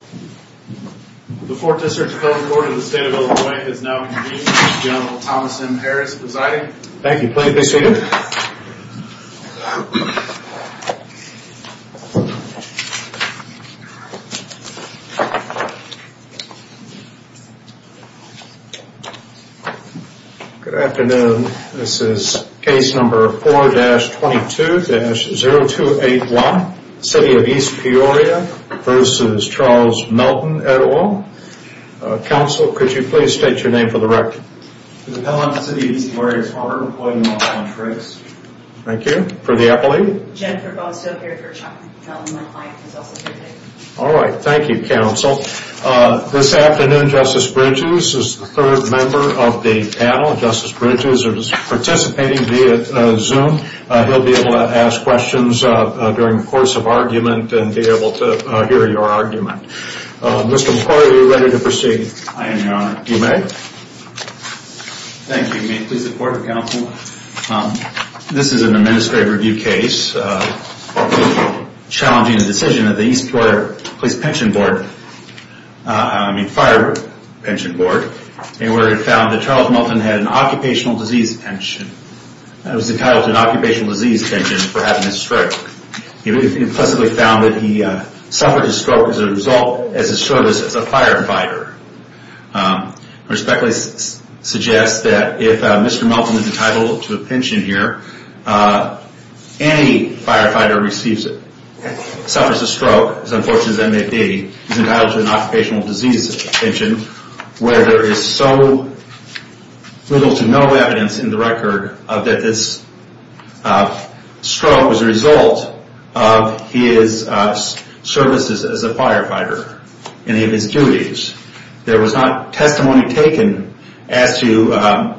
The 4th District Appeals Court in the State of Illinois is now convened with General Thomas M. Harris presiding. Thank you. Please be seated. Good afternoon. This is case number 4-22-0281, City of East Peoria v. Charles Melton, Et. Al. Counsel, could you please state your name for the record? For the panel of the City of East Peoria, it is an honor to be employed in the law firm Trace. Thank you. For the appellee? Jennifer Bosco here for Charles Melton. My client is also here today. All right. Thank you, Counsel. This afternoon, Justice Bridges is the third member of the panel. Justice Bridges is participating via Zoom. He'll be able to ask questions during the course of argument and be able to hear your argument. Mr. McCoy, are you ready to proceed? I am, Your Honor. You may. Thank you. May it please the Court of Counsel. This is an administrative review case challenging the decision of the East Peoria Fire Pension Board where it found that Charles Melton had an occupational disease pension. It was entitled to an occupational disease pension for having a stroke. It was implicitly found that he suffered a stroke as a result of his service as a firefighter. I respectfully suggest that if Mr. Melton is entitled to a pension here, any firefighter receives it, suffers a stroke, as unfortunate as that may be, is entitled to an occupational disease pension where there is so little to no evidence in the record that this stroke was a result of his services as a firefighter or any of his duties. There was not testimony taken as to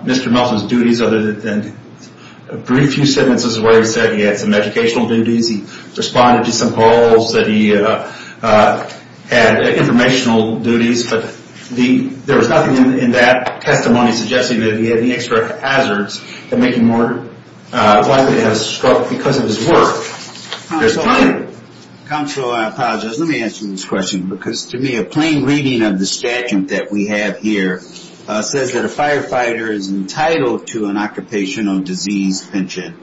Mr. Melton's duties other than a brief few sentences where he said he had some educational duties, he responded to some polls that he had informational duties, but there was nothing in that testimony suggesting that he had any extra hazards that make him more likely to have a stroke because of his work. Counsel, I apologize. Let me ask you this question because to me a plain reading of the statute that we have here says that a firefighter is entitled to an occupational disease pension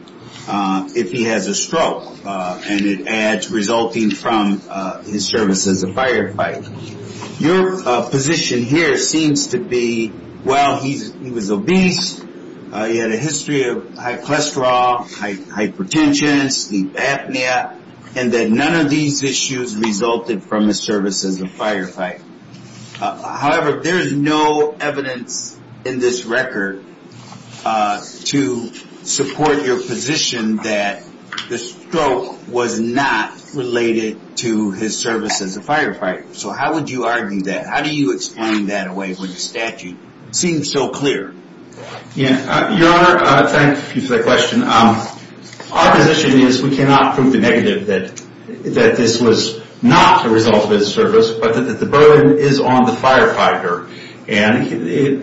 if he has a stroke and it adds resulting from his service as a firefighter. Your position here seems to be, well, he was obese, he had a history of high cholesterol, hypertension, sleep apnea, and that none of these issues resulted from his service as a firefighter. However, there is no evidence in this record to support your position that the stroke was not related to his service as a firefighter. So how would you argue that? How do you explain that away when the statute seems so clear? Your Honor, thank you for that question. Our position is we cannot prove the negative that this was not the result of his service, but that the burden is on the firefighter and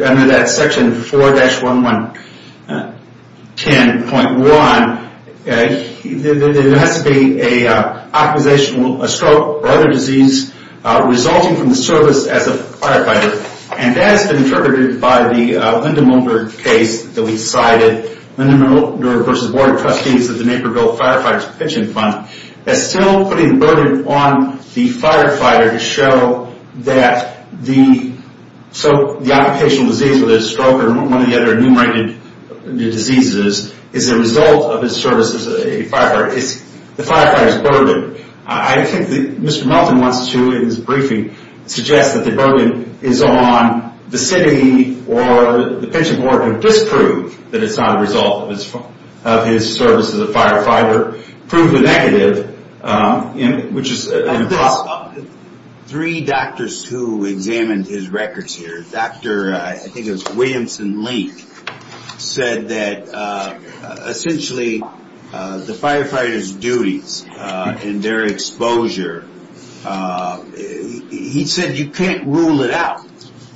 under that section 4-1110.1, there has to be an occupational stroke or other disease resulting from the service as a firefighter and that has been interpreted by the Linda Mulder case that we cited, Linda Mulder v. Board of Trustees of the Naperville Firefighters Pension Fund as still putting the burden on the firefighter to show that the occupational disease, whether it's a stroke or one of the other enumerated diseases, is a result of his service as a firefighter. It's the firefighter's burden. I think Mr. Melton wants to, in his briefing, suggest that the burden is on the city or the pension board to disprove that it's not a result of his service as a firefighter, prove the negative, which is impossible. Three doctors who examined his records here, Dr. I think it was Williamson Link, said that essentially the firefighter's duties and their exposure, he said you can't rule it out.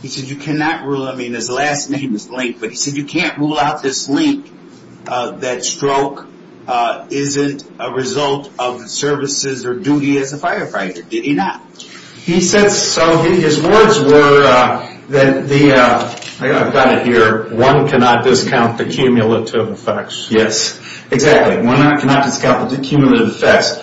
He said you cannot rule, I mean his last name is Link, but he said you can't rule out this link that stroke isn't a result of services or duty as a firefighter. Did he not? He said so, his words were that the, I've got it here, one cannot discount the cumulative effects. Yes, exactly. One cannot discount the cumulative effects.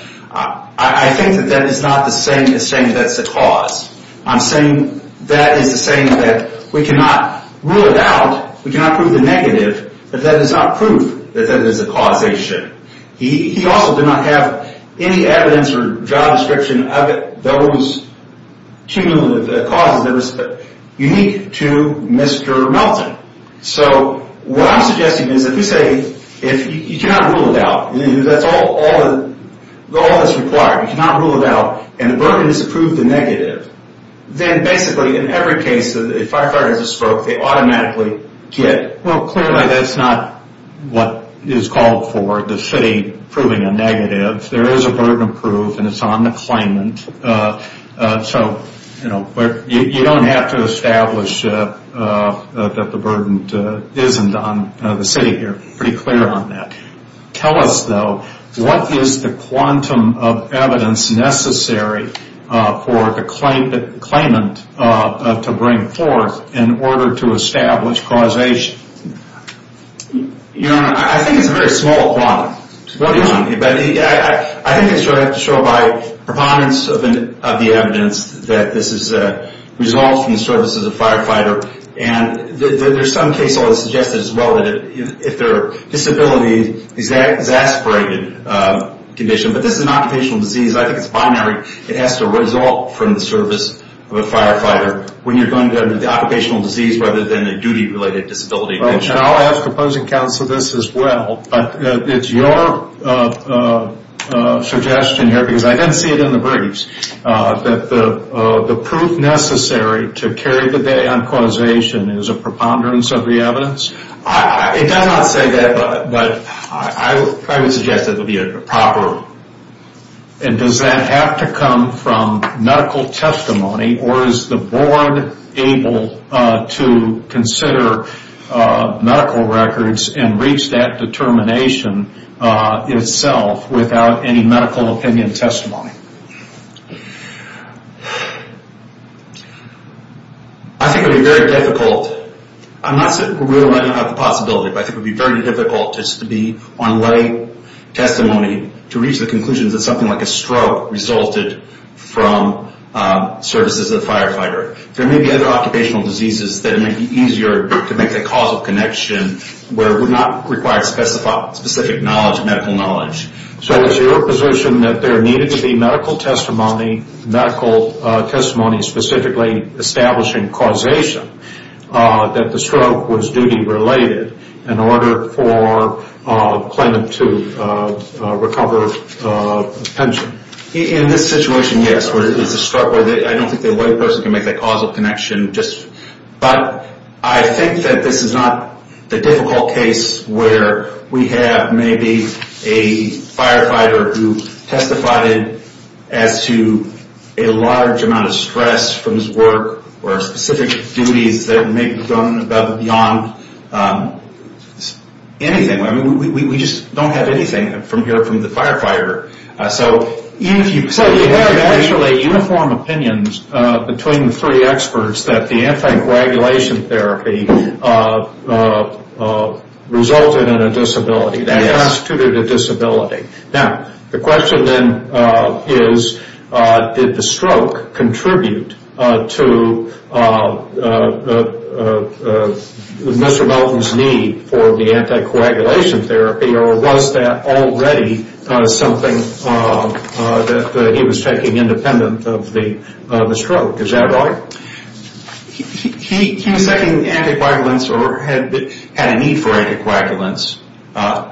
I think that that is not the same as saying that's the cause. I'm saying that is the same that we cannot rule it out, we cannot prove the negative, but that is not proof that that is a causation. He also did not have any evidence or job description of those cumulative causes that was unique to Mr. Melton. So what I'm suggesting is if you say you cannot rule it out, that's all that's required, you cannot rule it out and the burden is to prove the negative, then basically in every case that a firefighter has a stroke they automatically get. Well clearly that's not what is called for, the city proving a negative. There is a burden of proof and it's on the claimant. So you don't have to establish that the burden isn't on the city here, pretty clear on that. Tell us though, what is the quantum of evidence necessary for the claimant to bring forth in order to establish causation? Your Honor, I think it's a very small quantum. What do you mean? I think it should have to show by preponderance of the evidence that this is resolved from the services of the firefighter and there are some cases where it is suggested as well that if there are disabilities, an exasperated condition, but this is an occupational disease, I think it's binary, it has to result from the service of a firefighter. Occupational disease rather than a duty related disability. I'll ask opposing counsel this as well, but it's your suggestion here, because I didn't see it in the briefs, that the proof necessary to carry the day on causation is a preponderance of the evidence? It does not say that, but I would suggest it would be a proper. And does that have to come from medical testimony or is the board able to consider medical records and reach that determination itself without any medical opinion testimony? I think it would be very difficult. I'm not saying we're ruling out the possibility, but I think it would be very difficult just to be on lay testimony to reach the conclusion that something like a stroke resulted from services of the firefighter. There may be other occupational diseases that may be easier to make the causal connection where it would not require specific knowledge, medical knowledge. So it's your position that there needed to be medical testimony, specifically establishing causation, that the stroke was duty related in order for Clinton to recover his pension. In this situation, yes. I don't think a white person can make that causal connection. But I think that this is not the difficult case where we have maybe a firefighter who testified as to a large amount of stress from his work or specific duties that may have gone beyond anything. We just don't have anything from the firefighter. So you have actually uniform opinions between the three experts that the anticoagulation therapy resulted in a disability. That constituted a disability. Now, the question then is did the stroke contribute to Mr. Melton's need for the anticoagulation therapy, or was that already something that he was taking independent of the stroke? Is that right? He was taking anticoagulants or had a need for anticoagulants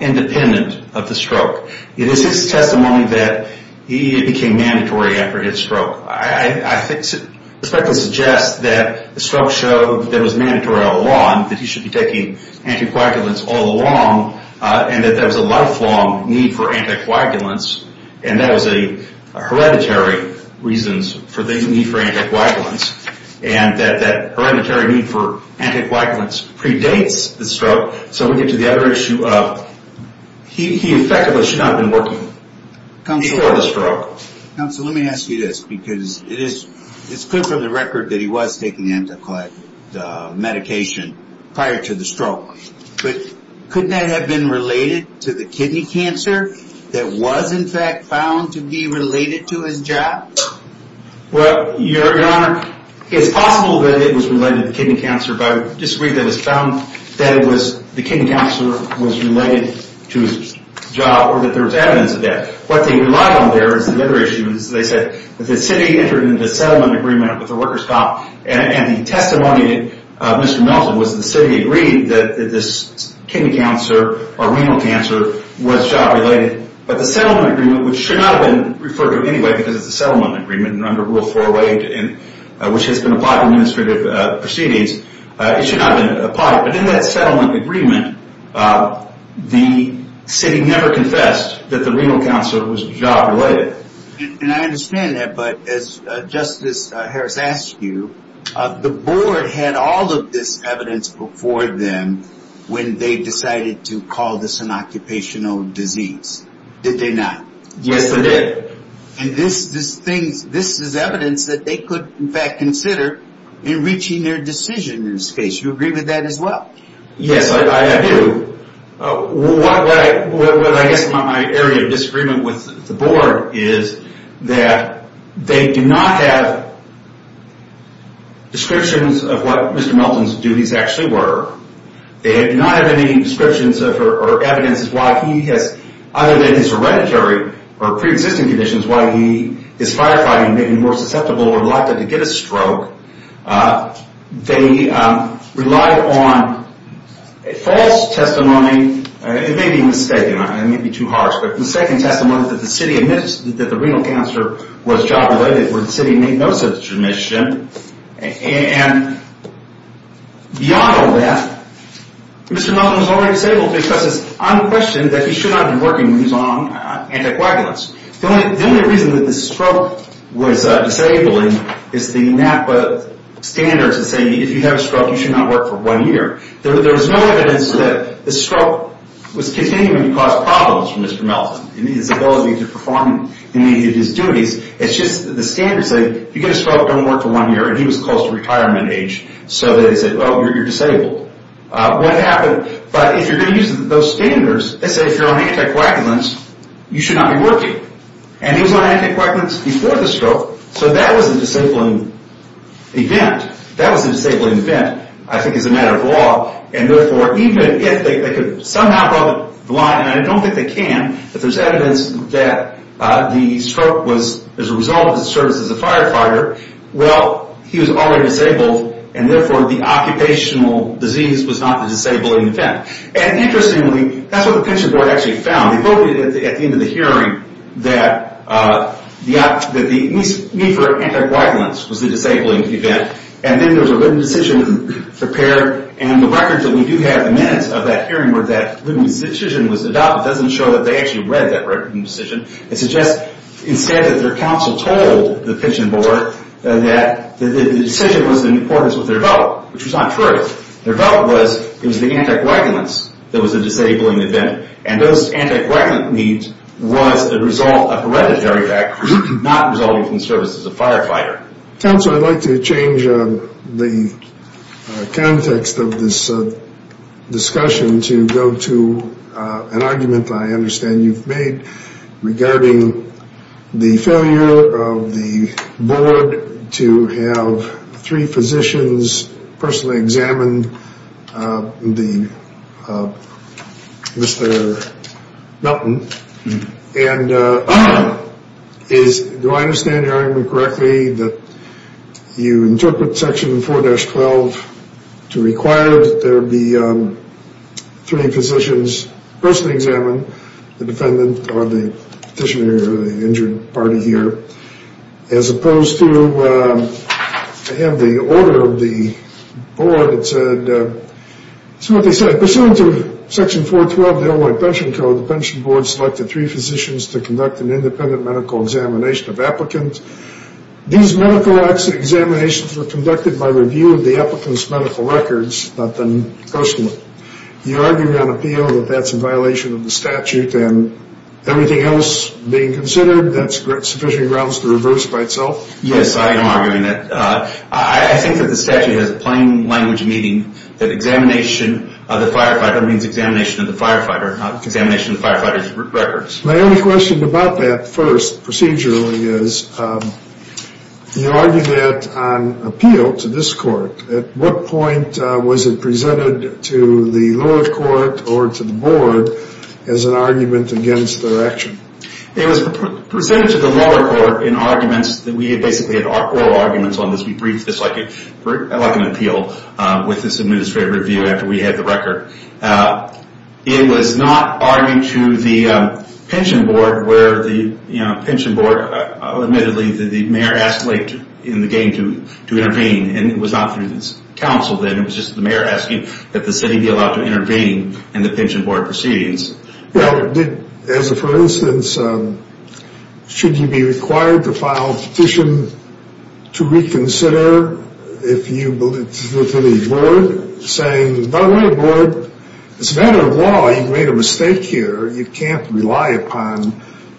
independent of the stroke. It is his testimony that it became mandatory after his stroke. I suspect it suggests that the stroke showed that it was mandatory all along, that he should be taking anticoagulants all along, and that there was a lifelong need for anticoagulants, and that was a hereditary reason for the need for anticoagulants, and that hereditary need for anticoagulants predates the stroke. So we get to the other issue of he effectively should not have been working before the stroke. Counsel, let me ask you this, because it is clear from the record that he was taking the anticoagulation medication prior to the stroke, but couldn't that have been related to the kidney cancer that was in fact found to be related to his job? Well, Your Honor, it's possible that it was related to kidney cancer, but I would disagree that it was found that the kidney cancer was related to his job or that there was evidence of that. What they relied on there is another issue, as they said that the city entered into a settlement agreement with the workers' comp, and the testimony of Mr. Melton was that the city agreed that this kidney cancer or renal cancer was job-related, but the settlement agreement, which should not have been referred to anyway because it's a settlement agreement under Rule 408, which has been applied to administrative proceedings, it should not have been applied. But in that settlement agreement, the city never confessed that the renal cancer was job-related. And I understand that, but as Justice Harris asked you, the board had all of this evidence before them when they decided to call this an occupational disease. Did they not? Yes, they did. And this is evidence that they could in fact consider in reaching their decision in this case. Do you agree with that as well? Yes, I do. What I guess my area of disagreement with the board is that they do not have descriptions of what Mr. Melton's duties actually were. They do not have any descriptions or evidence as to why he has, other than his hereditary or pre-existing conditions, why he is firefighting and maybe more susceptible or likely to get a stroke. They relied on false testimony. It may be mistaken. It may be too harsh. But mistaken testimony that the city admits that the renal cancer was job-related where the city made no such admission. And beyond all that, Mr. Melton was already disabled because it's unquestioned that he should not have been working when he was on anticoagulants. The only reason that the stroke was disabling is the NAPA standards that say if you have a stroke, you should not work for one year. There was no evidence that the stroke was continuing to cause problems for Mr. Melton in his ability to perform his duties. It's just the standards say if you get a stroke, don't work for one year. And he was close to retirement age. So they said, oh, you're disabled. What happened? But if you're going to use those standards, they say if you're on anticoagulants, you should not be working. And he was on anticoagulants before the stroke. So that was a disabling event. That was a disabling event, I think, as a matter of law. And therefore, even if they could somehow draw the line, and I don't think they can, if there's evidence that the stroke was a result of his service as a firefighter, well, he was already disabled, and therefore the occupational disease was not the disabling event. And interestingly, that's what the pension board actually found. They voted at the end of the hearing that the need for anticoagulants was the disabling event. And then there was a written decision prepared. And the records that we do have in minutes of that hearing were that the decision was adopted. It doesn't show that they actually read that written decision. It suggests instead that their counsel told the pension board that the decision was in accordance with their vote, which was not true. Their vote was it was the anticoagulants that was the disabling event. And those anticoagulant needs was a hereditary fact, not a result of his service as a firefighter. Counsel, I'd like to change the context of this discussion to go to an argument I understand you've made regarding the failure of the board to have three physicians personally examine Mr. Melton. And do I understand your argument correctly that you interpret Section 4-12 to require that there be three physicians personally examine the defendant or the petitioner or the injured party here as opposed to to have the order of the board that said, it's what they said, pursuant to Section 4-12 of the Illinois Pension Code, the pension board selected three physicians to conduct an independent medical examination of applicants. These medical examinations were conducted by review of the applicant's medical records, not them personally. You argue on appeal that that's a violation of the statute and everything else being considered, that sufficient grounds to reverse by itself? Yes, I am arguing that. I think that the statute has plain language meaning that examination of the firefighter means examination of the firefighter, examination of the firefighter's records. My only question about that first procedurally is you argue that on appeal to this court. At what point was it presented to the lower court or to the board as an argument against their action? It was presented to the lower court in arguments that we basically had oral arguments on this. We briefed this like an appeal with this administrative review after we had the record. It was not argued to the pension board where the pension board, admittedly the mayor asked late in the game to intervene and it was not through this council then. It was just the mayor asking that the city be allowed to intervene in the pension board proceedings. As a first instance, should you be required to file a petition to reconsider if you believe, to the board saying, by the way board, it's a matter of law. You've made a mistake here. You can't rely upon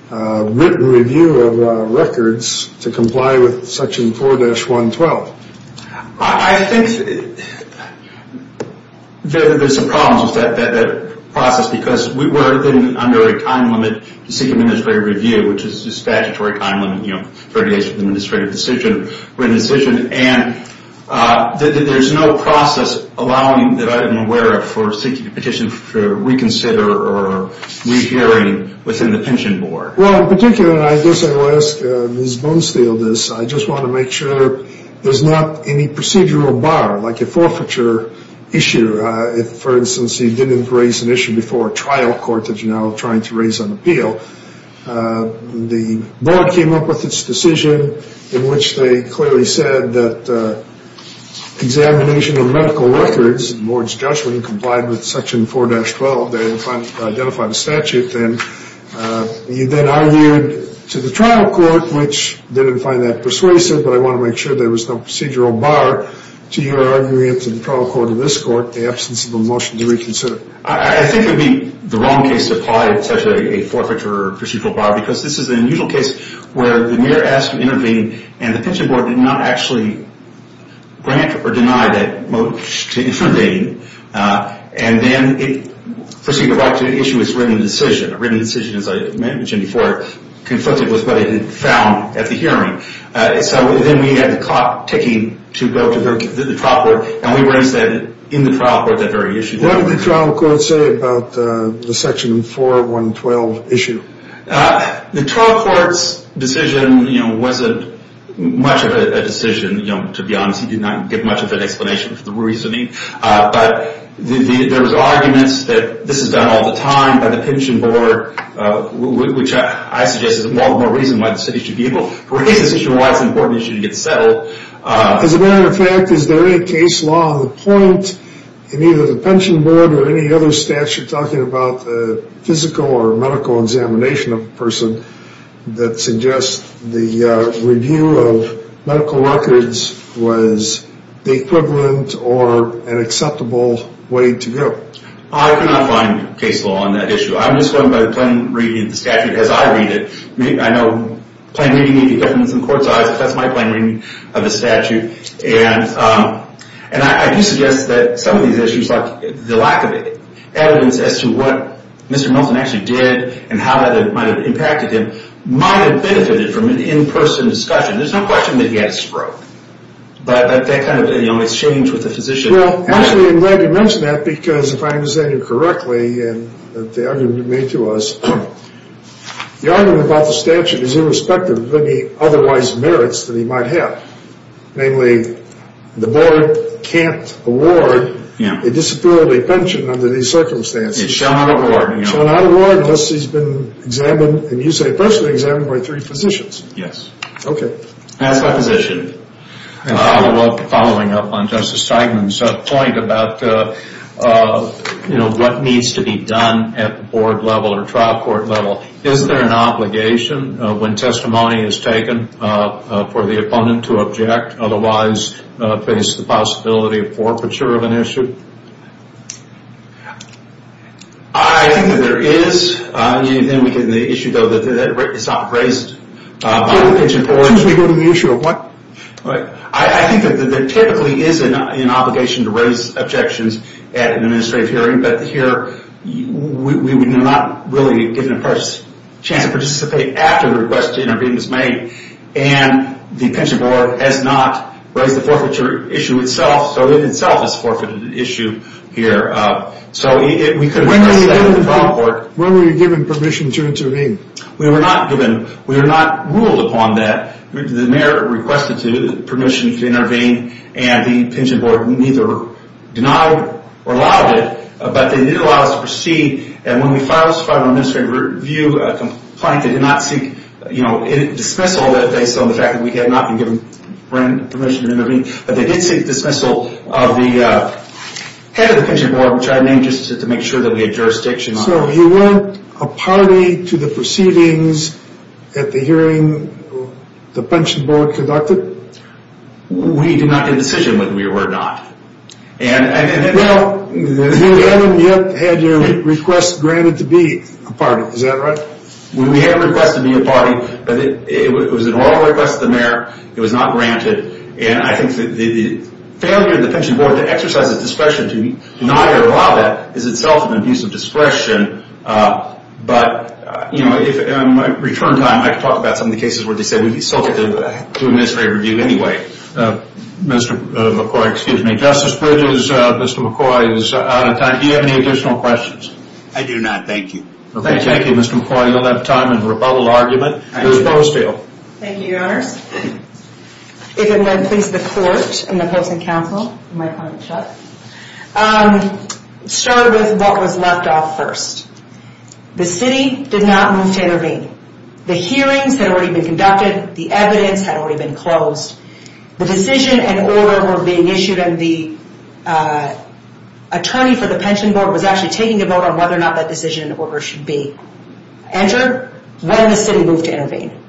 written review of records to comply with section 4-112. I think that there's some problems with that process because we're then under a time limit to seek administrative review, which is a statutory time limit, you know, 30 days from the administrative decision, written decision, and there's no process allowing, that I'm aware of, for seeking a petition for reconsider or rehearing within the pension board. Well, in particular, I guess I will ask Ms. Bonesteel this. I just want to make sure there's not any procedural bar, like a forfeiture issue. For instance, you didn't raise an issue before a trial court that you're now trying to raise on appeal. The board came up with its decision in which they clearly said that examination of medical records, the board's judgment complied with section 4-112. They identified a statute then. You then argued to the trial court, which didn't find that persuasive, but I want to make sure there was no procedural bar to your argument that in the case of the trial court in this court, the absence of a motion to reconsider. I think it would be the wrong case to apply such a forfeiture or procedural bar because this is an unusual case where the mayor asked to intervene and the pension board did not actually grant or deny that motion to infrindate, and then it proceeded to write to the issue as written decision. A written decision, as I mentioned before, conflicted with what it had found at the hearing. Then we had the clock ticking to go to the trial court, and we raised that in the trial court, that very issue. What did the trial court say about the section 4-112 issue? The trial court's decision wasn't much of a decision, to be honest. He did not give much of an explanation for the reasoning, but there was arguments that this is done all the time by the pension board, which I suggest is one more reason why the city should be able to raise this issue and why it's an important issue to get settled. As a matter of fact, is there any case law on the point in either the pension board or any other statute talking about the physical or medical examination of a person that suggests the review of medical records was the equivalent or an acceptable way to go? I cannot find case law on that issue. I'm just going by the plain reading of the statute as I read it. I know plain reading may be different in the court's eyes, but that's my plain reading of the statute. And I do suggest that some of these issues like the lack of evidence as to what Mr. Milton actually did and how that might have impacted him might have benefited from an in-person discussion. There's no question that he had a stroke, but that kind of exchange with the physician... Well, actually, I'm glad you mentioned that because if I understand you correctly and the argument you made to us, the argument about the statute is irrespective of any otherwise merits that he might have. Namely, the board can't award a disability pension under these circumstances. It shall not award. It shall not award unless he's been examined, and you say personally examined, by three physicians. Yes. Okay. As a physician, following up on Justice Steigman's point about what needs to be done at the board level or trial court level, is there an obligation when testimony is taken for the opponent to object? Otherwise, face the possibility of forfeiture of an issue? I think that there is. Then we get into the issue, though, that it's not raised by the pension board. Excuse me, go to the issue of what? I think that there typically is an obligation to raise objections at an administrative hearing, but here we were not really given a chance to participate after the request to intervene was made, and the pension board has not raised the forfeiture issue itself, so it itself is a forfeited issue here. When were you given permission to intervene? We were not given. We were not ruled upon that. The mayor requested permission to intervene, and the pension board neither denied or allowed it, but they did allow us to proceed, and when we filed this final administrative review complaint, they did not seek dismissal based on the fact that we had not been given permission to intervene, but they did seek dismissal of the head of the pension board, which I named just to make sure that we had jurisdiction. So you weren't a party to the proceedings at the hearing the pension board conducted? We did not make a decision when we were not. Well, you haven't yet had your request granted to be a party, is that right? We had a request to be a party, but it was an oral request of the mayor. It was not granted, and I think that the failure of the pension board to exercise its discretion to deny or allow that is itself an abuse of discretion, but in my return time, I can talk about some of the cases where they said we'd be subject to administrative review anyway. Justice Bridges, Mr. McCoy is out of time. Do you have any additional questions? I do not, thank you. Thank you, Mr. McCoy. You'll have time in a rebuttal argument. Ms. Bostell. Thank you, Your Honors. If it won't please the court and the opposing counsel. It started with what was left off first. The city did not move to intervene. The hearings had already been conducted. The evidence had already been closed. The decision and order were being issued, and the attorney for the pension board was actually taking a vote on whether or not that decision and order should be entered when the city moved to intervene.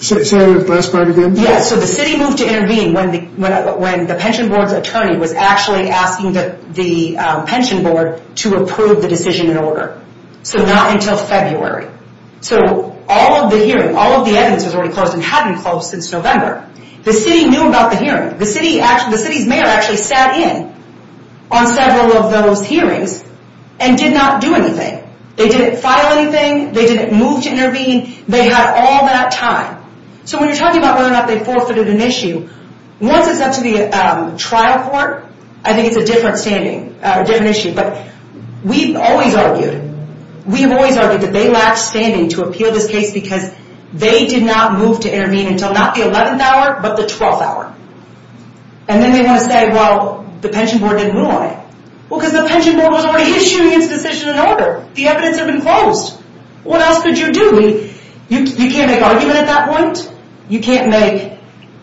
Say that last part again. Yes, so the city moved to intervene when the pension board's attorney was actually asking the pension board to approve the decision and order. So not until February. So all of the evidence was already closed and hadn't closed since November. The city knew about the hearing. The city's mayor actually sat in on several of those hearings and did not do anything. They didn't file anything. They didn't move to intervene. They had all that time. So when you're talking about whether or not they forfeited an issue, once it's up to the trial court, I think it's a different issue. But we've always argued, we've always argued that they lacked standing to appeal this case because they did not move to intervene until not the 11th hour, but the 12th hour. And then they want to say, well, the pension board didn't move on it. Well, because the pension board was already issuing its decision and order. The evidence had been closed. What else could you do? You can't make argument at that point. You can't make, you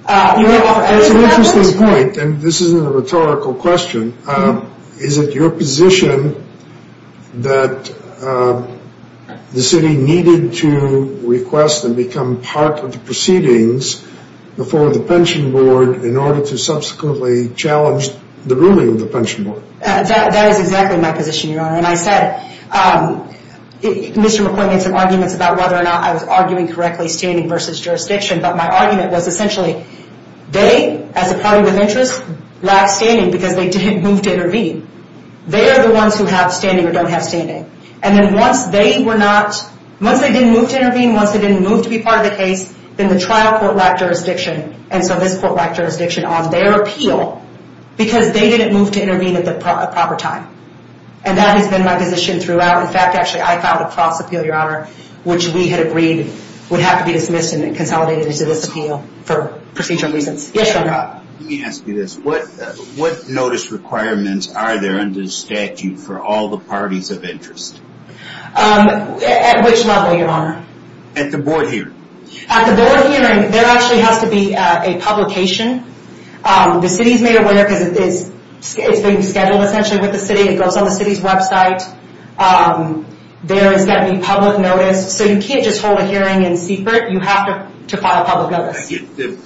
can't offer evidence at that point. That's an interesting point, and this isn't a rhetorical question. Is it your position that the city needed to request and become part of the proceedings before the pension board in order to subsequently challenge the ruling of the pension board? That is exactly my position, Your Honor. And I said, Mr. McCoy made some arguments about whether or not I was arguing correctly standing versus jurisdiction, but my argument was essentially they, as a party with interest, lacked standing because they didn't move to intervene. They are the ones who have standing or don't have standing. And then once they were not, once they didn't move to intervene, once they didn't move to be part of the case, then the trial court lacked jurisdiction. And so this court lacked jurisdiction on their appeal because they didn't move to intervene at the proper time. And that has been my position throughout. In fact, actually, I filed a cross appeal, Your Honor, which we had agreed would have to be dismissed and consolidated into this appeal for procedural reasons. Yes, Your Honor. Let me ask you this. What notice requirements are there under the statute for all the parties of interest? At which level, Your Honor? At the board hearing. At the board hearing, there actually has to be a publication. The city's made aware because it's being scheduled, essentially, with the city. It goes on the city's website. There is going to be public notice. So you can't just hold a hearing in secret. You have to file public notice.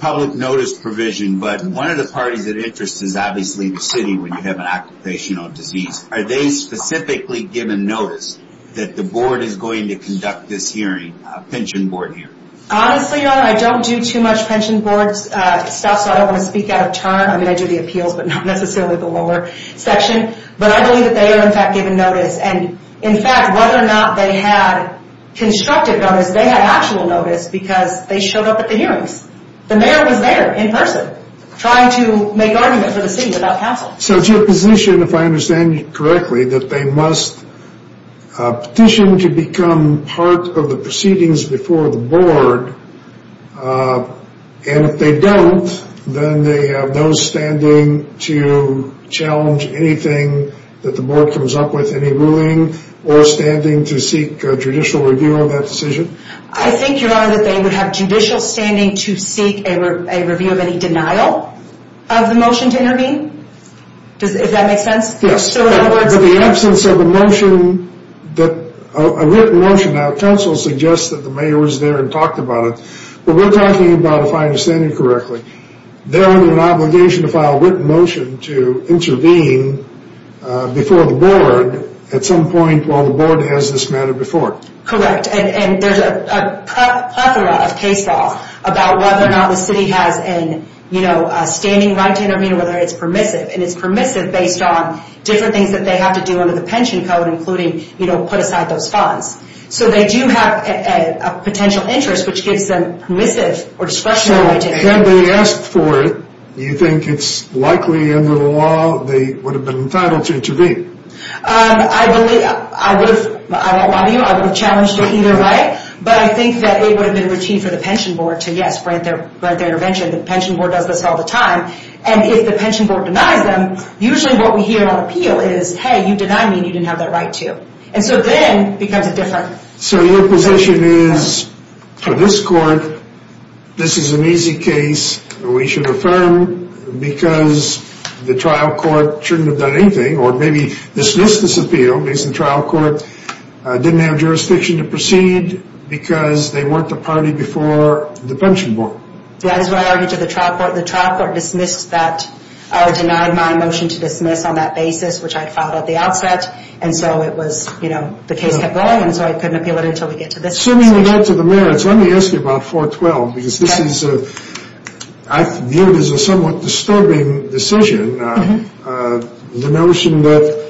Public notice provision, but one of the parties of interest is obviously the city when you have an occupational disease. Are they specifically given notice that the board is going to conduct this hearing, a pension board hearing? Honestly, Your Honor, I don't do too much pension board stuff, so I don't want to speak out of turn. I mean, I do the appeals, but not necessarily the lower section. But I believe that they are, in fact, given notice. And, in fact, whether or not they had constructive notice, they had actual notice because they showed up at the hearings. The mayor was there in person trying to make argument for the city without counsel. So it's your position, if I understand you correctly, that they must petition to become part of the proceedings before the board, and if they don't, then they have no standing to challenge anything that the board comes up with, any ruling, or standing to seek a judicial review of that decision? I think, Your Honor, that they would have judicial standing to seek a review of any denial of the motion to intervene, if that makes sense. Yes, but the absence of a motion, a written motion, without counsel suggests that the mayor was there and talked about it. But we're talking about, if I understand you correctly, their obligation to file a written motion to intervene before the board at some point while the board has this matter before it. Correct, and there's a plethora of case law about whether or not the city has a standing right to intervene or whether it's permissive. And it's permissive based on different things that they have to do under the pension code, including put aside those funds. So they do have a potential interest, which gives them permissive or discretionary right to intervene. So had they asked for it, do you think it's likely under the law they would have been entitled to intervene? I won't lie to you, I would have challenged it either way, but I think that it would have been routine for the pension board to, yes, grant their intervention. The pension board does this all the time. And if the pension board denies them, usually what we hear on appeal is, hey, you denied me and you didn't have that right to. And so then it becomes a different... So your position is, for this court, this is an easy case we should affirm because the trial court shouldn't have done anything, or maybe dismissed this appeal because the trial court didn't have jurisdiction to proceed because they weren't the party before the pension board. That is what I argued to the trial court. The trial court dismissed that, or denied my motion to dismiss on that basis, which I had filed at the outset. And so it was, you know, the case kept going, and so I couldn't appeal it until we get to this decision. Assuming we get to the merits, let me ask you about 412, because this is, I view it as a somewhat disturbing decision, the notion that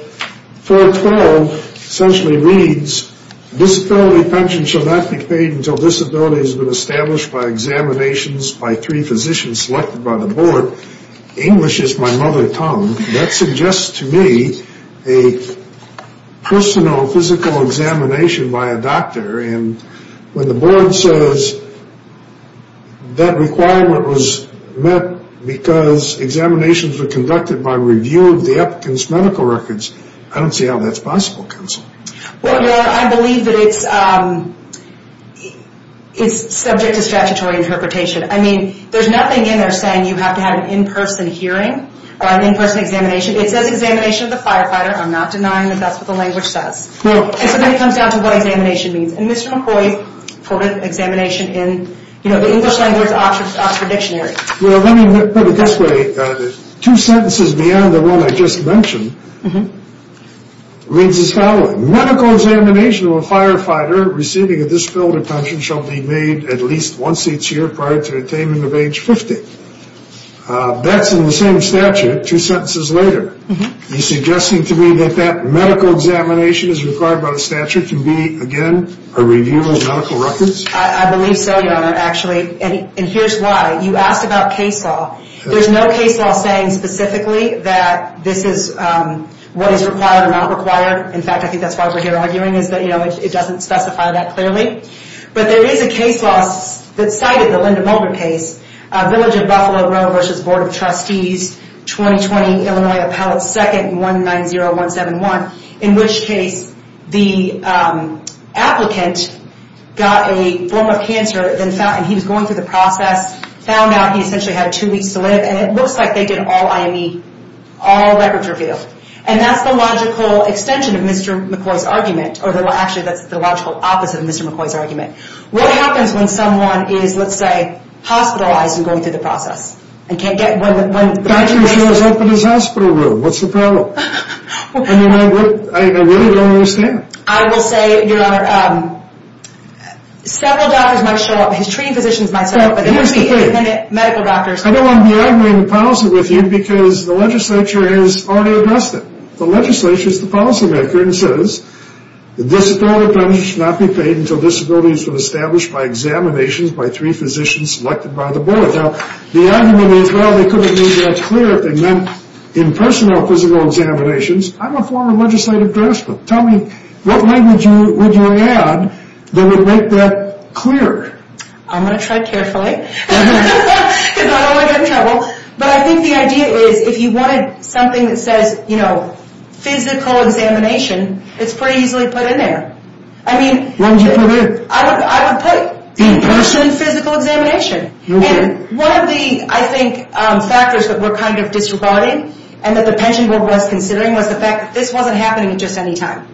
412 essentially reads, disability pension shall not be paid until disability has been established by examinations by three physicians selected by the board. English is my mother tongue. That suggests to me a personal physical examination by a doctor, and when the board says that requirement was met because examinations were conducted by review of the applicant's medical records, I don't see how that's possible, counsel. Well, I believe that it's subject to statutory interpretation. I mean, there's nothing in there saying you have to have an in-person hearing, or an in-person examination. It says examination of the firefighter. I'm not denying that that's what the language says. And so then it comes down to what examination means. And Mr. McCoy quoted examination in, you know, the English language Oxford Dictionary. Well, let me put it this way. Two sentences beyond the one I just mentioned reads as following. Medical examination of a firefighter receiving a disability pension shall be made at least once each year prior to attainment of age 50. That's in the same statute two sentences later. Are you suggesting to me that that medical examination as required by the statute can be, again, a review of medical records? I believe so, Your Honor, actually. And here's why. You asked about case law. There's no case law saying specifically that this is what is required or not required. In fact, I think that's why we're here arguing is that, you know, it doesn't specify that clearly. But there is a case law that cited the Linda Mulgrew case, Village of Buffalo Road v. Board of Trustees, 2020, Illinois Appellate 2nd, 190171, in which case the applicant got a form of cancer and he was going through the process, found out he essentially had two weeks to live, and it looks like they did all IME, all records revealed. And that's the logical extension of Mr. McCoy's argument. Actually, that's the logical opposite of Mr. McCoy's argument. What happens when someone is, let's say, hospitalized and going through the process? The doctor shows up in his hospital room. What's the problem? I mean, I really don't understand. I will say, Your Honor, several doctors might show up. His treating physicians might show up, but there would be independent medical doctors. I don't want to be arguing the policy with you because the legislature has already addressed it. The legislature is the policymaker and says, The disability penalty should not be paid until disabilities have been established by examinations by three physicians selected by the board. Now, the argument is, well, they couldn't make that clear if they meant impersonal physical examinations. I'm a former legislative congressman. Tell me, what language would you add that would make that clear? I'm going to try carefully because I don't want to get in trouble. But I think the idea is if you wanted something that says, you know, physical examination, it's pretty easily put in there. I mean, I would put impersonal physical examination. One of the, I think, factors that were kind of disregarding and that the pension board was considering was the fact that this wasn't happening at just any time.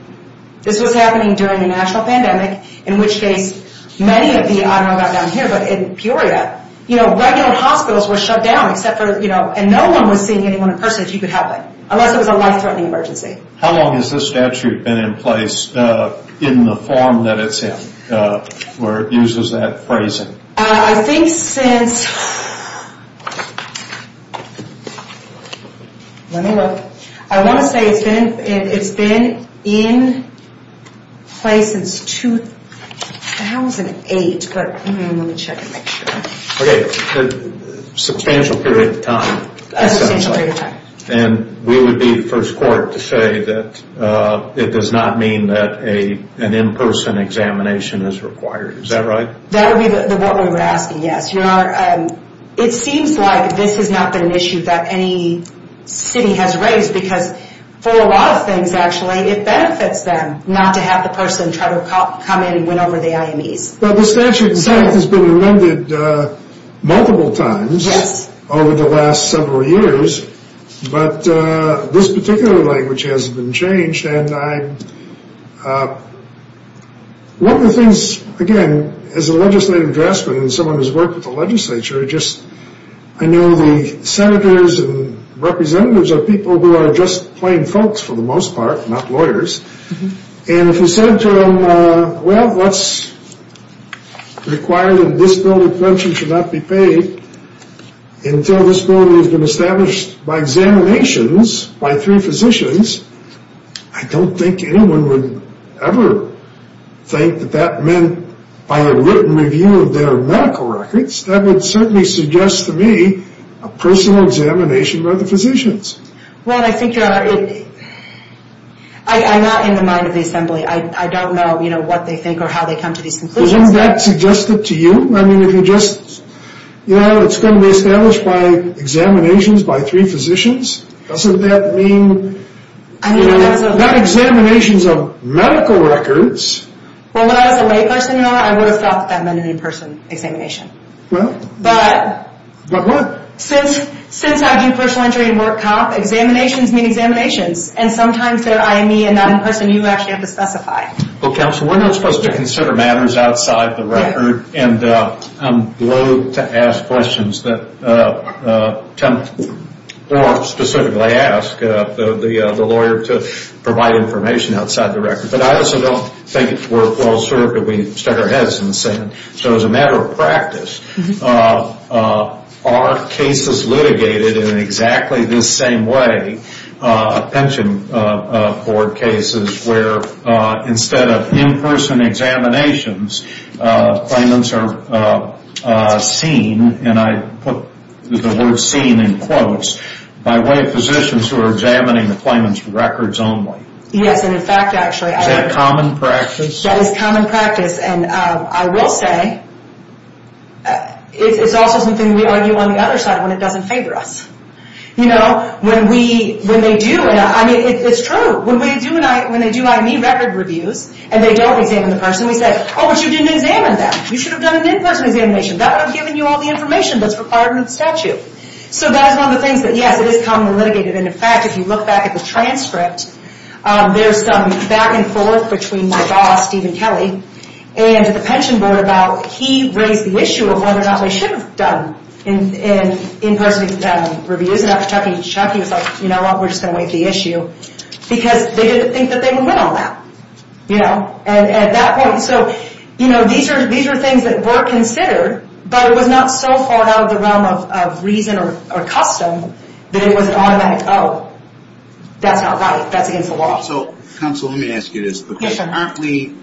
This was happening during the national pandemic, in which case many of the, I don't know about down here, but in Peoria, you know, regular hospitals were shut down except for, you know, and no one was seeing anyone in person if you could have it. Unless it was a life-threatening emergency. How long has this statute been in place in the form that it's in, where it uses that phrasing? I think since, let me look. I want to say it's been in place since 2008, but let me check and make sure. Okay. Substantial period of time. Substantial period of time. And we would be the first court to say that it does not mean that an in-person examination is required. Is that right? That would be what we were asking, yes. It seems like this has not been an issue that any city has raised because for a lot of things, actually, it benefits them not to have the person try to come in and win over the IMEs. Well, the statute in fact has been amended multiple times over the last several years, but this particular language hasn't been changed. And one of the things, again, as a legislative draftsman and someone who's worked with the legislature, I know the senators and representatives are people who are just plain folks for the most part, not lawyers. And if you said to them, well, what's required in this bill of prevention should not be paid until this bill has been established by examinations by three physicians, I don't think anyone would ever think that that meant by a written review of their medical records. That would certainly suggest to me a personal examination by the physicians. Well, I think you're already – I'm not in the mind of the assembly. I don't know, you know, what they think or how they come to these conclusions. Isn't that suggested to you? I mean, if you just, you know, it's going to be established by examinations by three physicians. Doesn't that mean, you know, not examinations of medical records. Well, if I was a layperson, I would have thought that meant an in-person examination. Well. But. But what? Since I do personal injury and work cop, examinations mean examinations. And sometimes they're IME and not in-person. You actually have to specify. Well, counsel, we're not supposed to consider matters outside the record. And I'm loathe to ask questions that – or specifically ask the lawyer to provide information outside the record. But I also don't think it's worthwhile, sir, that we stuck our heads in the sand. So as a matter of practice, are cases litigated in exactly the same way, pension board cases where instead of in-person examinations, claimants are seen, and I put the word seen in quotes, by lay physicians who are examining the claimant's records only. Yes, and in fact, actually. Is that common practice? That is common practice. And I will say it's also something we argue on the other side when it doesn't favor us. You know, when they do – I mean, it's true. When they do IME record reviews and they don't examine the person, we say, oh, but you didn't examine that. You should have done an in-person examination. That would have given you all the information that's required under the statute. So that is one of the things that, yes, it is commonly litigated. And in fact, if you look back at the transcript, there's some back and forth between my boss, Stephen Kelly, and the pension board about he raised the issue of whether or not they should have done in-person reviews. And after talking to Chuck, he was like, you know what, we're just going to waive the issue because they didn't think that they would win on that, you know, at that point. So, you know, these are things that were considered, but it was not so far out of the realm of reason or custom that it was an automatic, oh, that's not right. That's against the law. So, counsel, let me ask you this. Yes, sir. We're currently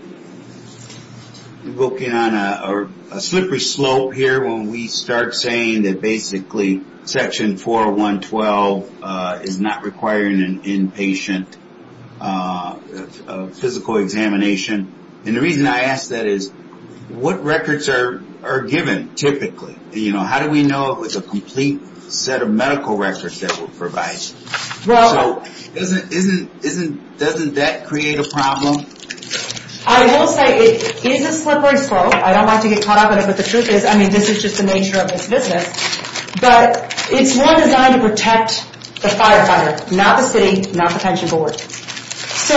looking on a slippery slope here when we start saying that basically, section 4.1.12 is not requiring an inpatient physical examination. And the reason I ask that is, what records are given typically? You know, how do we know if it's a complete set of medical records that were provided? So doesn't that create a problem? I will say it is a slippery slope. I don't want to get caught up in it, but the truth is, I mean, this is just the nature of this business. But it's more designed to protect the firefighter, not the city, not the pension board. So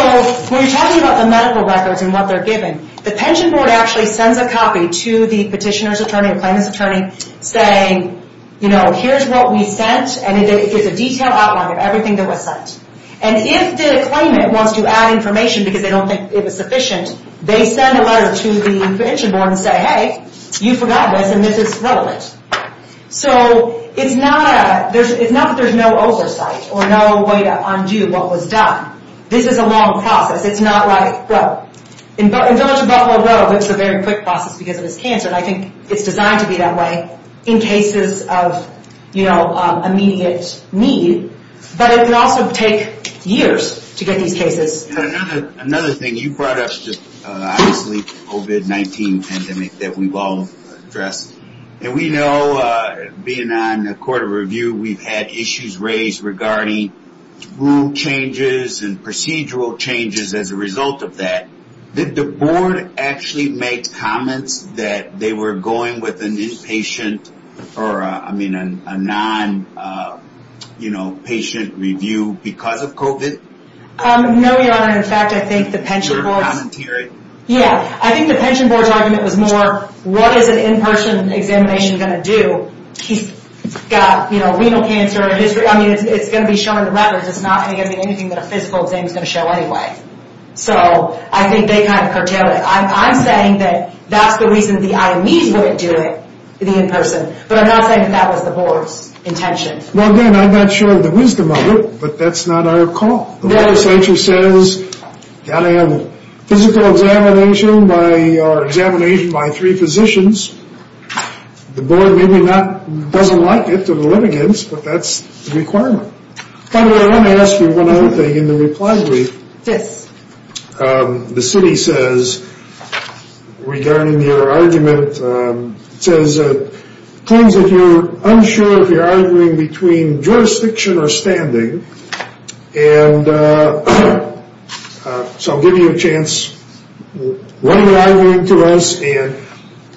when you're talking about the medical records and what they're given, the pension board actually sends a copy to the petitioner's attorney or plaintiff's attorney saying, you know, here's what we sent, and it gives a detailed outline of everything that was sent. And if the claimant wants to add information because they don't think it was sufficient, they send a letter to the pension board and say, hey, you forgot this, and this is relevant. So it's not that there's no oversight or no way to undo what was done. This is a long process. It's not like, well, in Village of Buffalo Road, it's a very quick process because of this cancer. And I think it's designed to be that way in cases of, you know, immediate need. But it can also take years to get these cases. Another thing, you brought up just obviously COVID-19 pandemic that we've all addressed. And we know being on the court of review, we've had issues raised regarding rule changes and procedural changes as a result of that. Did the board actually make comments that they were going with an inpatient or, I mean, a non, you know, patient review because of COVID? No, your honor. In fact, I think the pension board. Yeah. I think the pension board's argument was more, what is an in-person examination going to do? He's got, you know, renal cancer. I mean, it's going to be shown in the records. It's not going to be anything that a physical exam is going to show anyway. So I think they kind of curtailed it. I'm saying that that's the reason the IMEs wouldn't do it, the in-person. But I'm not saying that that was the board's intention. Well, again, I'm not sure of the wisdom of it, but that's not our call. The legislature says, got to have a physical examination by, or examination by three physicians. The board maybe not, doesn't like it to the litigants, but that's the requirement. By the way, I want to ask you one other thing in the reply brief. Yes. The city says, regarding your argument, says it claims that you're unsure if you're arguing between jurisdiction or standing. And so I'll give you a chance. Why are you arguing to us? And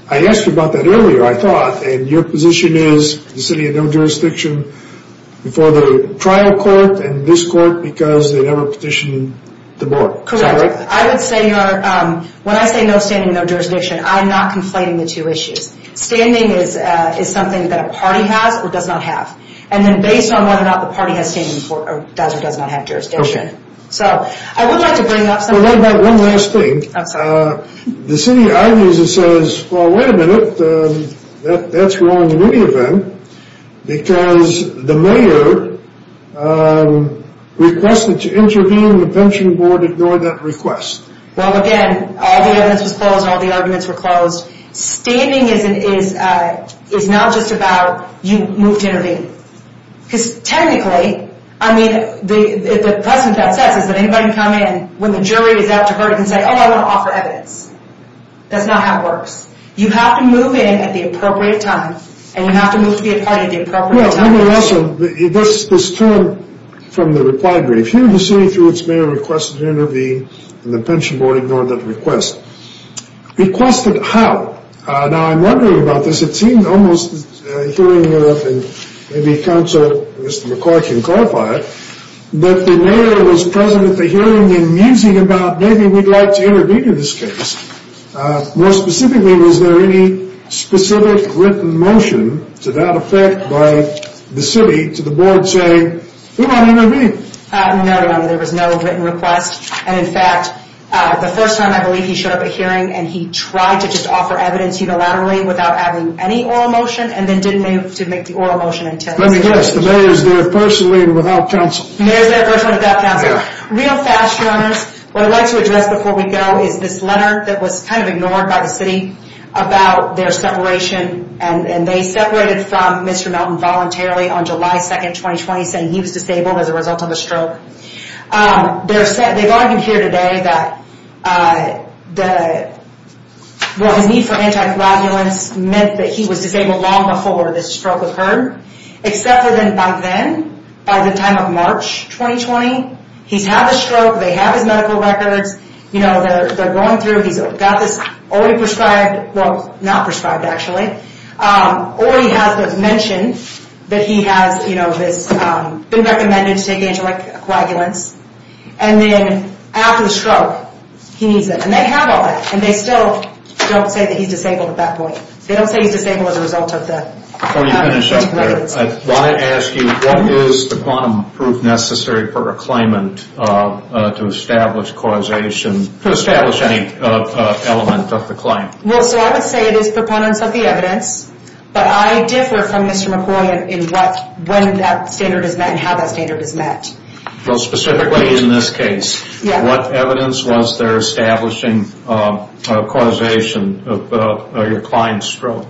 I asked you about that earlier, I thought, and your position is the city had no jurisdiction before the trial court and this court because they never petitioned the board. Correct. I would say when I say no standing, no jurisdiction, I'm not conflating the two issues. Standing is something that a party has or does not have. And then based on whether or not the party has standing or does or does not have jurisdiction. So I would like to bring up something. One last thing. I'm sorry. The city of Ivy's says, well, wait a minute, that's wrong in any event, because the mayor requested to intervene. The pension board ignored that request. Well, again, all the evidence was closed. All the arguments were closed. Standing is not just about you moved to intervene. Because technically, I mean, the precedent that says is that anybody can come in when the jury is out to hurt and say, oh, I want to offer evidence. That's not how it works. You have to move in at the appropriate time and you have to move to be a party at the appropriate time. Well, let me also, this term from the reply brief, here the city, through its mayor, requested to intervene, and the pension board ignored that request. Requested how? Now, I'm wondering about this. It seemed almost, hearing maybe counsel, Mr. McCoy can clarify it, that the mayor was present at the hearing and musing about maybe we'd like to intervene in this case. More specifically, was there any specific written motion to that effect by the city to the board saying, we want to intervene? No, Your Honor, there was no written request. And, in fact, the first time I believe he showed up at hearing and he tried to just offer evidence unilaterally without having any oral motion and then didn't have to make the oral motion in ten minutes. Let me guess, the mayor is there personally and without counsel. Mayor is there personally and without counsel. Real fast, Your Honors, what I'd like to address before we go is this letter that was kind of ignored by the city about their separation and they separated from Mr. Melton voluntarily on July 2nd, 2020, saying he was disabled as a result of a stroke. They've argued here today that his need for anti-coagulants meant that he was disabled long before the stroke occurred, except for then, by then, by the time of March 2020, he's had the stroke, they have his medical records, you know, they're going through, he's got this already prescribed, well, not prescribed actually, already has it mentioned that he has, you know, this, been recommended to take anti-coagulants and then after the stroke, he needs them. And they have all that and they still don't say that he's disabled at that point. They don't say he's disabled as a result of the anti-coagulants. Before you finish up there, I want to ask you, what is the quantum proof necessary for a claimant to establish causation, to establish any element of the claim? Well, so I would say it is proponents of the evidence, but I differ from Mr. McCoy in what, when that standard is met and how that standard is met. Well, specifically in this case, what evidence was there establishing causation of your client's stroke?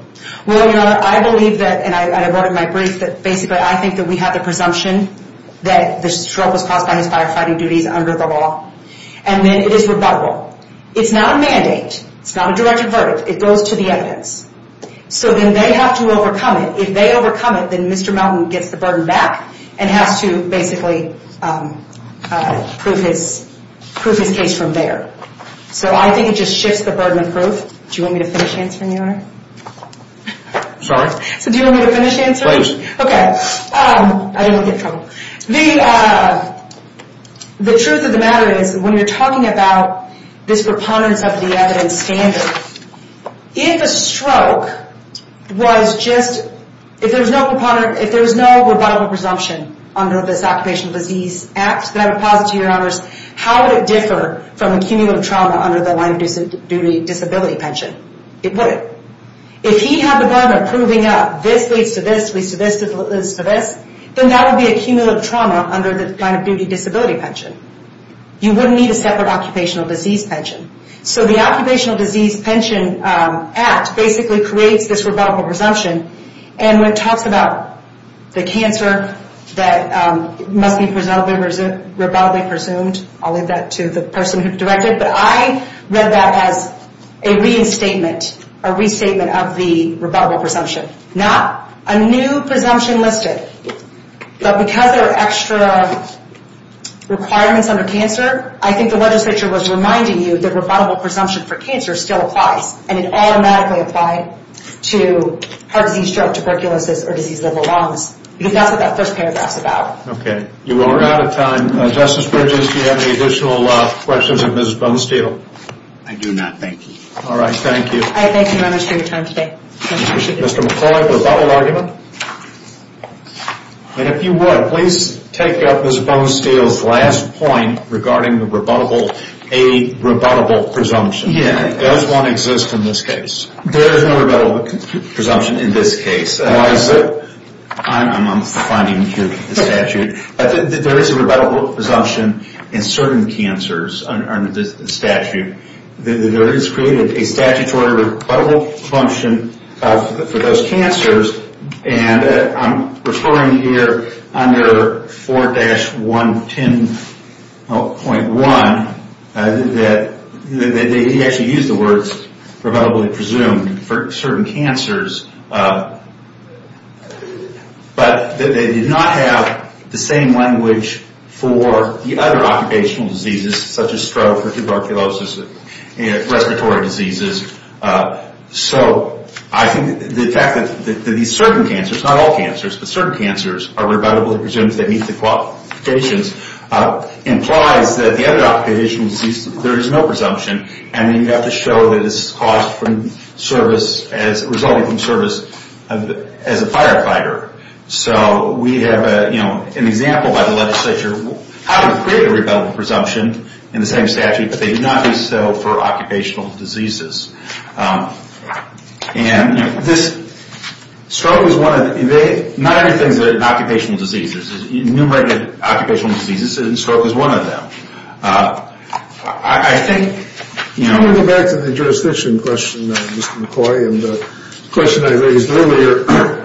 Well, you know, I believe that, and I wrote in my brief, that basically I think that we have the presumption that the stroke was caused by his firefighting duties under the law. And then it is rebuttable. It's not a mandate, it's not a directed verdict, it goes to the evidence. So then they have to overcome it. If they overcome it, then Mr. Mountain gets the burden back and has to basically prove his case from there. So I think it just shifts the burden of proof. Do you want me to finish answering, Your Honor? Sorry? So do you want me to finish answering? Please. Okay. I didn't want to get in trouble. The truth of the matter is, when you're talking about this proponents of the evidence standard, if a stroke was just, if there was no rebuttable presumption under this Occupational Disease Act, then I would posit to Your Honors, how would it differ from accumulative trauma under the line of duty disability pension? It wouldn't. If he had the burden of proving up, this leads to this, leads to this, leads to this, then that would be accumulative trauma under the line of duty disability pension. You wouldn't need a separate occupational disease pension. So the Occupational Disease Pension Act basically creates this rebuttable presumption, and when it talks about the cancer that must be rebuttably presumed, I'll leave that to the person who directed it, but I read that as a reinstatement, a restatement of the rebuttable presumption. Not a new presumption listed, but because there are extra requirements under cancer, I think the legislature was reminding you that rebuttable presumption for cancer still applies, and it automatically applied to heart disease, stroke, tuberculosis, or disease of the lungs. Because that's what that first paragraph's about. Okay. You are out of time. Justice Bridges, do you have any additional questions of Mrs. Bonesteel? I do not. Thank you. All right. Thank you. I thank you very much for your time today. Mr. McCoy, rebuttal argument? And if you would, please take up Mrs. Bonesteel's last point regarding the rebuttable, a rebuttable presumption. Yeah, it does not exist in this case. There is no rebuttable presumption in this case. Why is that? I'm finding here in the statute. There is a rebuttable presumption in certain cancers under the statute. There is created a statutory rebuttable presumption for those cancers, and I'm referring here under 4-110.1 that they actually use the words rebuttably presumed for certain cancers, but they did not have the same language for the other occupational diseases such as stroke or tuberculosis, respiratory diseases. So I think the fact that these certain cancers, not all cancers, but certain cancers are rebuttably presumed that meet the qualifications implies that the other occupational diseases, there is no presumption, and you have to show that this is caused from service, resulting from service as a firefighter. So we have an example by the legislature how to create a rebuttable presumption in the same statute, but they do not do so for occupational diseases. And this, stroke is one of the, not everything is an occupational disease. There's enumerated occupational diseases, and stroke is one of them. I think, you know... Let me go back to the jurisdiction question, Mr. McCoy, and the question I raised earlier.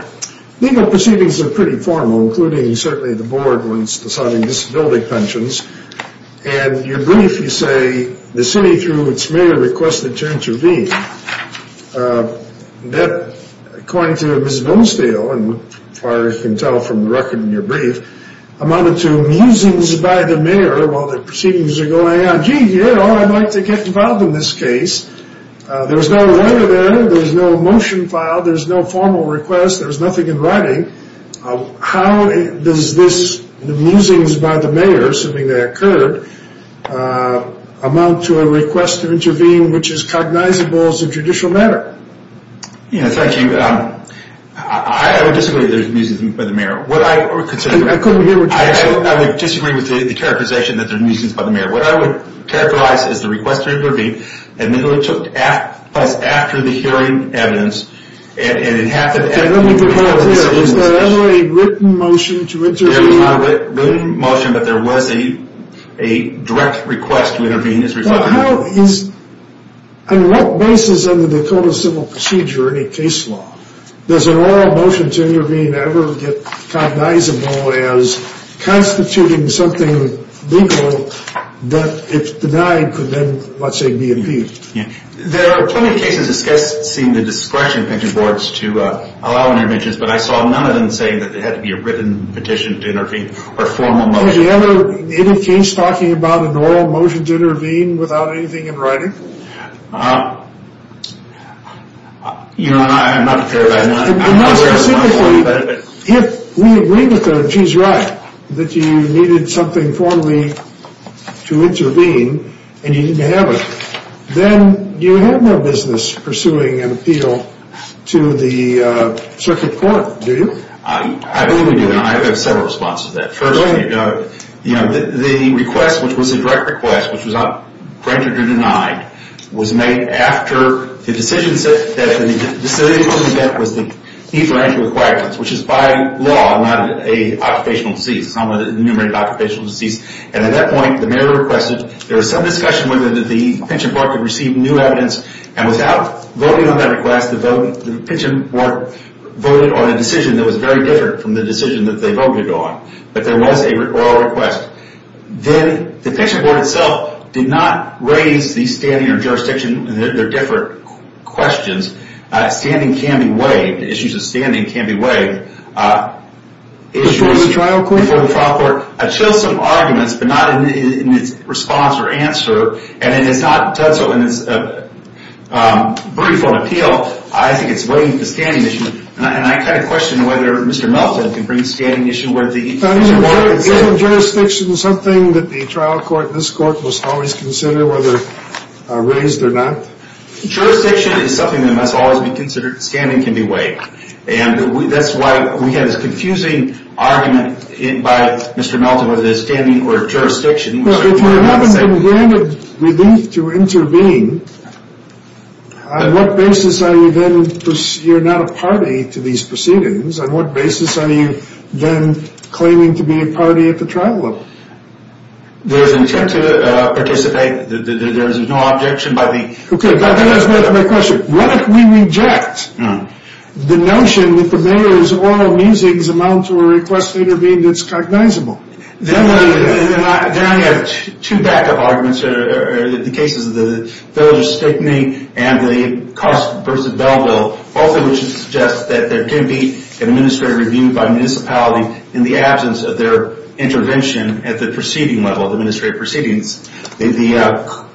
Legal proceedings are pretty formal, including certainly the board when it's deciding disability pensions, and your brief, you say, the city through its mayor requested to intervene. That, according to Ms. Bonesdale, and as far as you can tell from the record in your brief, amounted to musings by the mayor while the proceedings are going on. Gee, you know, I'd like to get involved in this case. There's no letter there. There's no motion filed. There's no formal request. There's nothing in writing. How does this musings by the mayor, assuming they occurred, amount to a request to intervene which is cognizable as a judicial matter? Yeah, thank you. I would disagree that there's musings by the mayor. I couldn't hear what you said. I would disagree with the characterization that there's musings by the mayor. What I would characterize is the request to intervene, and then it took place after the hearing evidence, and it happened after the hearing evidence. Was there ever a written motion to intervene? There was not a written motion, but there was a direct request to intervene as a result. On what basis in the Dakota Civil Procedure, any case law, does an oral motion to intervene ever get cognizable as constituting something legal that if denied could then, let's say, be impeached? There are plenty of cases discussing the discretion of pension boards to allow interventions, but I saw none of them saying that there had to be a written petition to intervene or formal motion. Was there ever any case talking about an oral motion to intervene without anything in writing? You know, I'm not prepared. I'm not prepared to answer that question. If we agree with the chief's right that you needed something formally to intervene and you didn't have it, then you have no business pursuing an appeal to the circuit court, do you? I believe we do now. I have several responses to that. First, the request, which was a direct request, which was granted or denied, was made after the decision that the facility was meant was the need for anti-requirements, which is by law not an occupational disease. It's not an enumerated occupational disease. And at that point, the mayor requested. There was some discussion whether the pension board could receive new evidence. And without voting on that request, the pension board voted on a decision that was very different from the decision that they voted on. But there was an oral request. Then the pension board itself did not raise the standing or jurisdiction. They're different questions. Standing can be waived. Issues of standing can be waived. Before the trial court? Before the trial court. I chose some arguments, but not in its response or answer. And it's not done so in its brief on appeal. I think it's waived the standing issue. And I kind of question whether Mr. Melton can bring the standing issue where the pension board... Is standing and jurisdiction something that the trial court, this court, must always consider whether raised or not? Jurisdiction is something that must always be considered. Standing can be waived. And that's why we had this confusing argument by Mr. Melton whether the standing or jurisdiction... If you haven't been granted relief to intervene, on what basis are you then... You're not a party to these proceedings. On what basis are you then claiming to be a party at the trial level? There's intent to participate. There is no objection by the... Okay, but that is my question. What if we reject the notion that the mayor's oral musings amount to a request to intervene that's cognizable? Then I have two backup arguments that are the cases of the village of Stickney and the cost versus bell bill, both of which suggest that there can be an administrative review by municipality in the absence of their intervention at the proceeding level, the administrative proceedings. The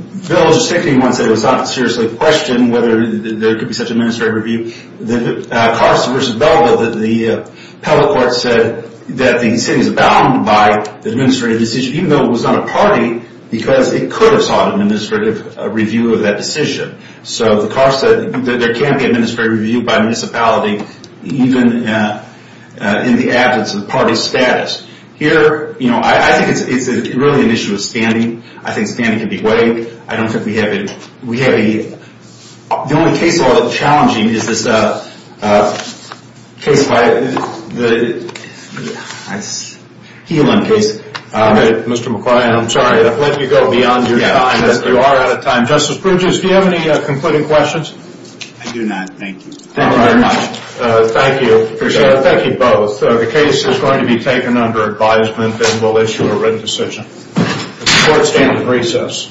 village of Stickney, one said it was not seriously questioned whether there could be such an administrative review. The cost versus bell bill, the public court said that the city is bound by the administrative decision, even though it was not a party because it could have sought an administrative review of that decision. So the cost said that there can be an administrative review by municipality even in the absence of the party's status. Here, I think it's really an issue of standing. I think standing can be weighed. I don't think we have a... The only case I'll be challenging is this case by the... Healan case. Okay, Mr. McQuarrie, I'm sorry to have let you go beyond your time. You are out of time. Justice Pruduce, do you have any concluding questions? I do not, thank you. Thank you very much. Thank you. Appreciate it. Thank you both. The case is going to be taken under advisement and we'll issue a written decision. The court stands at recess.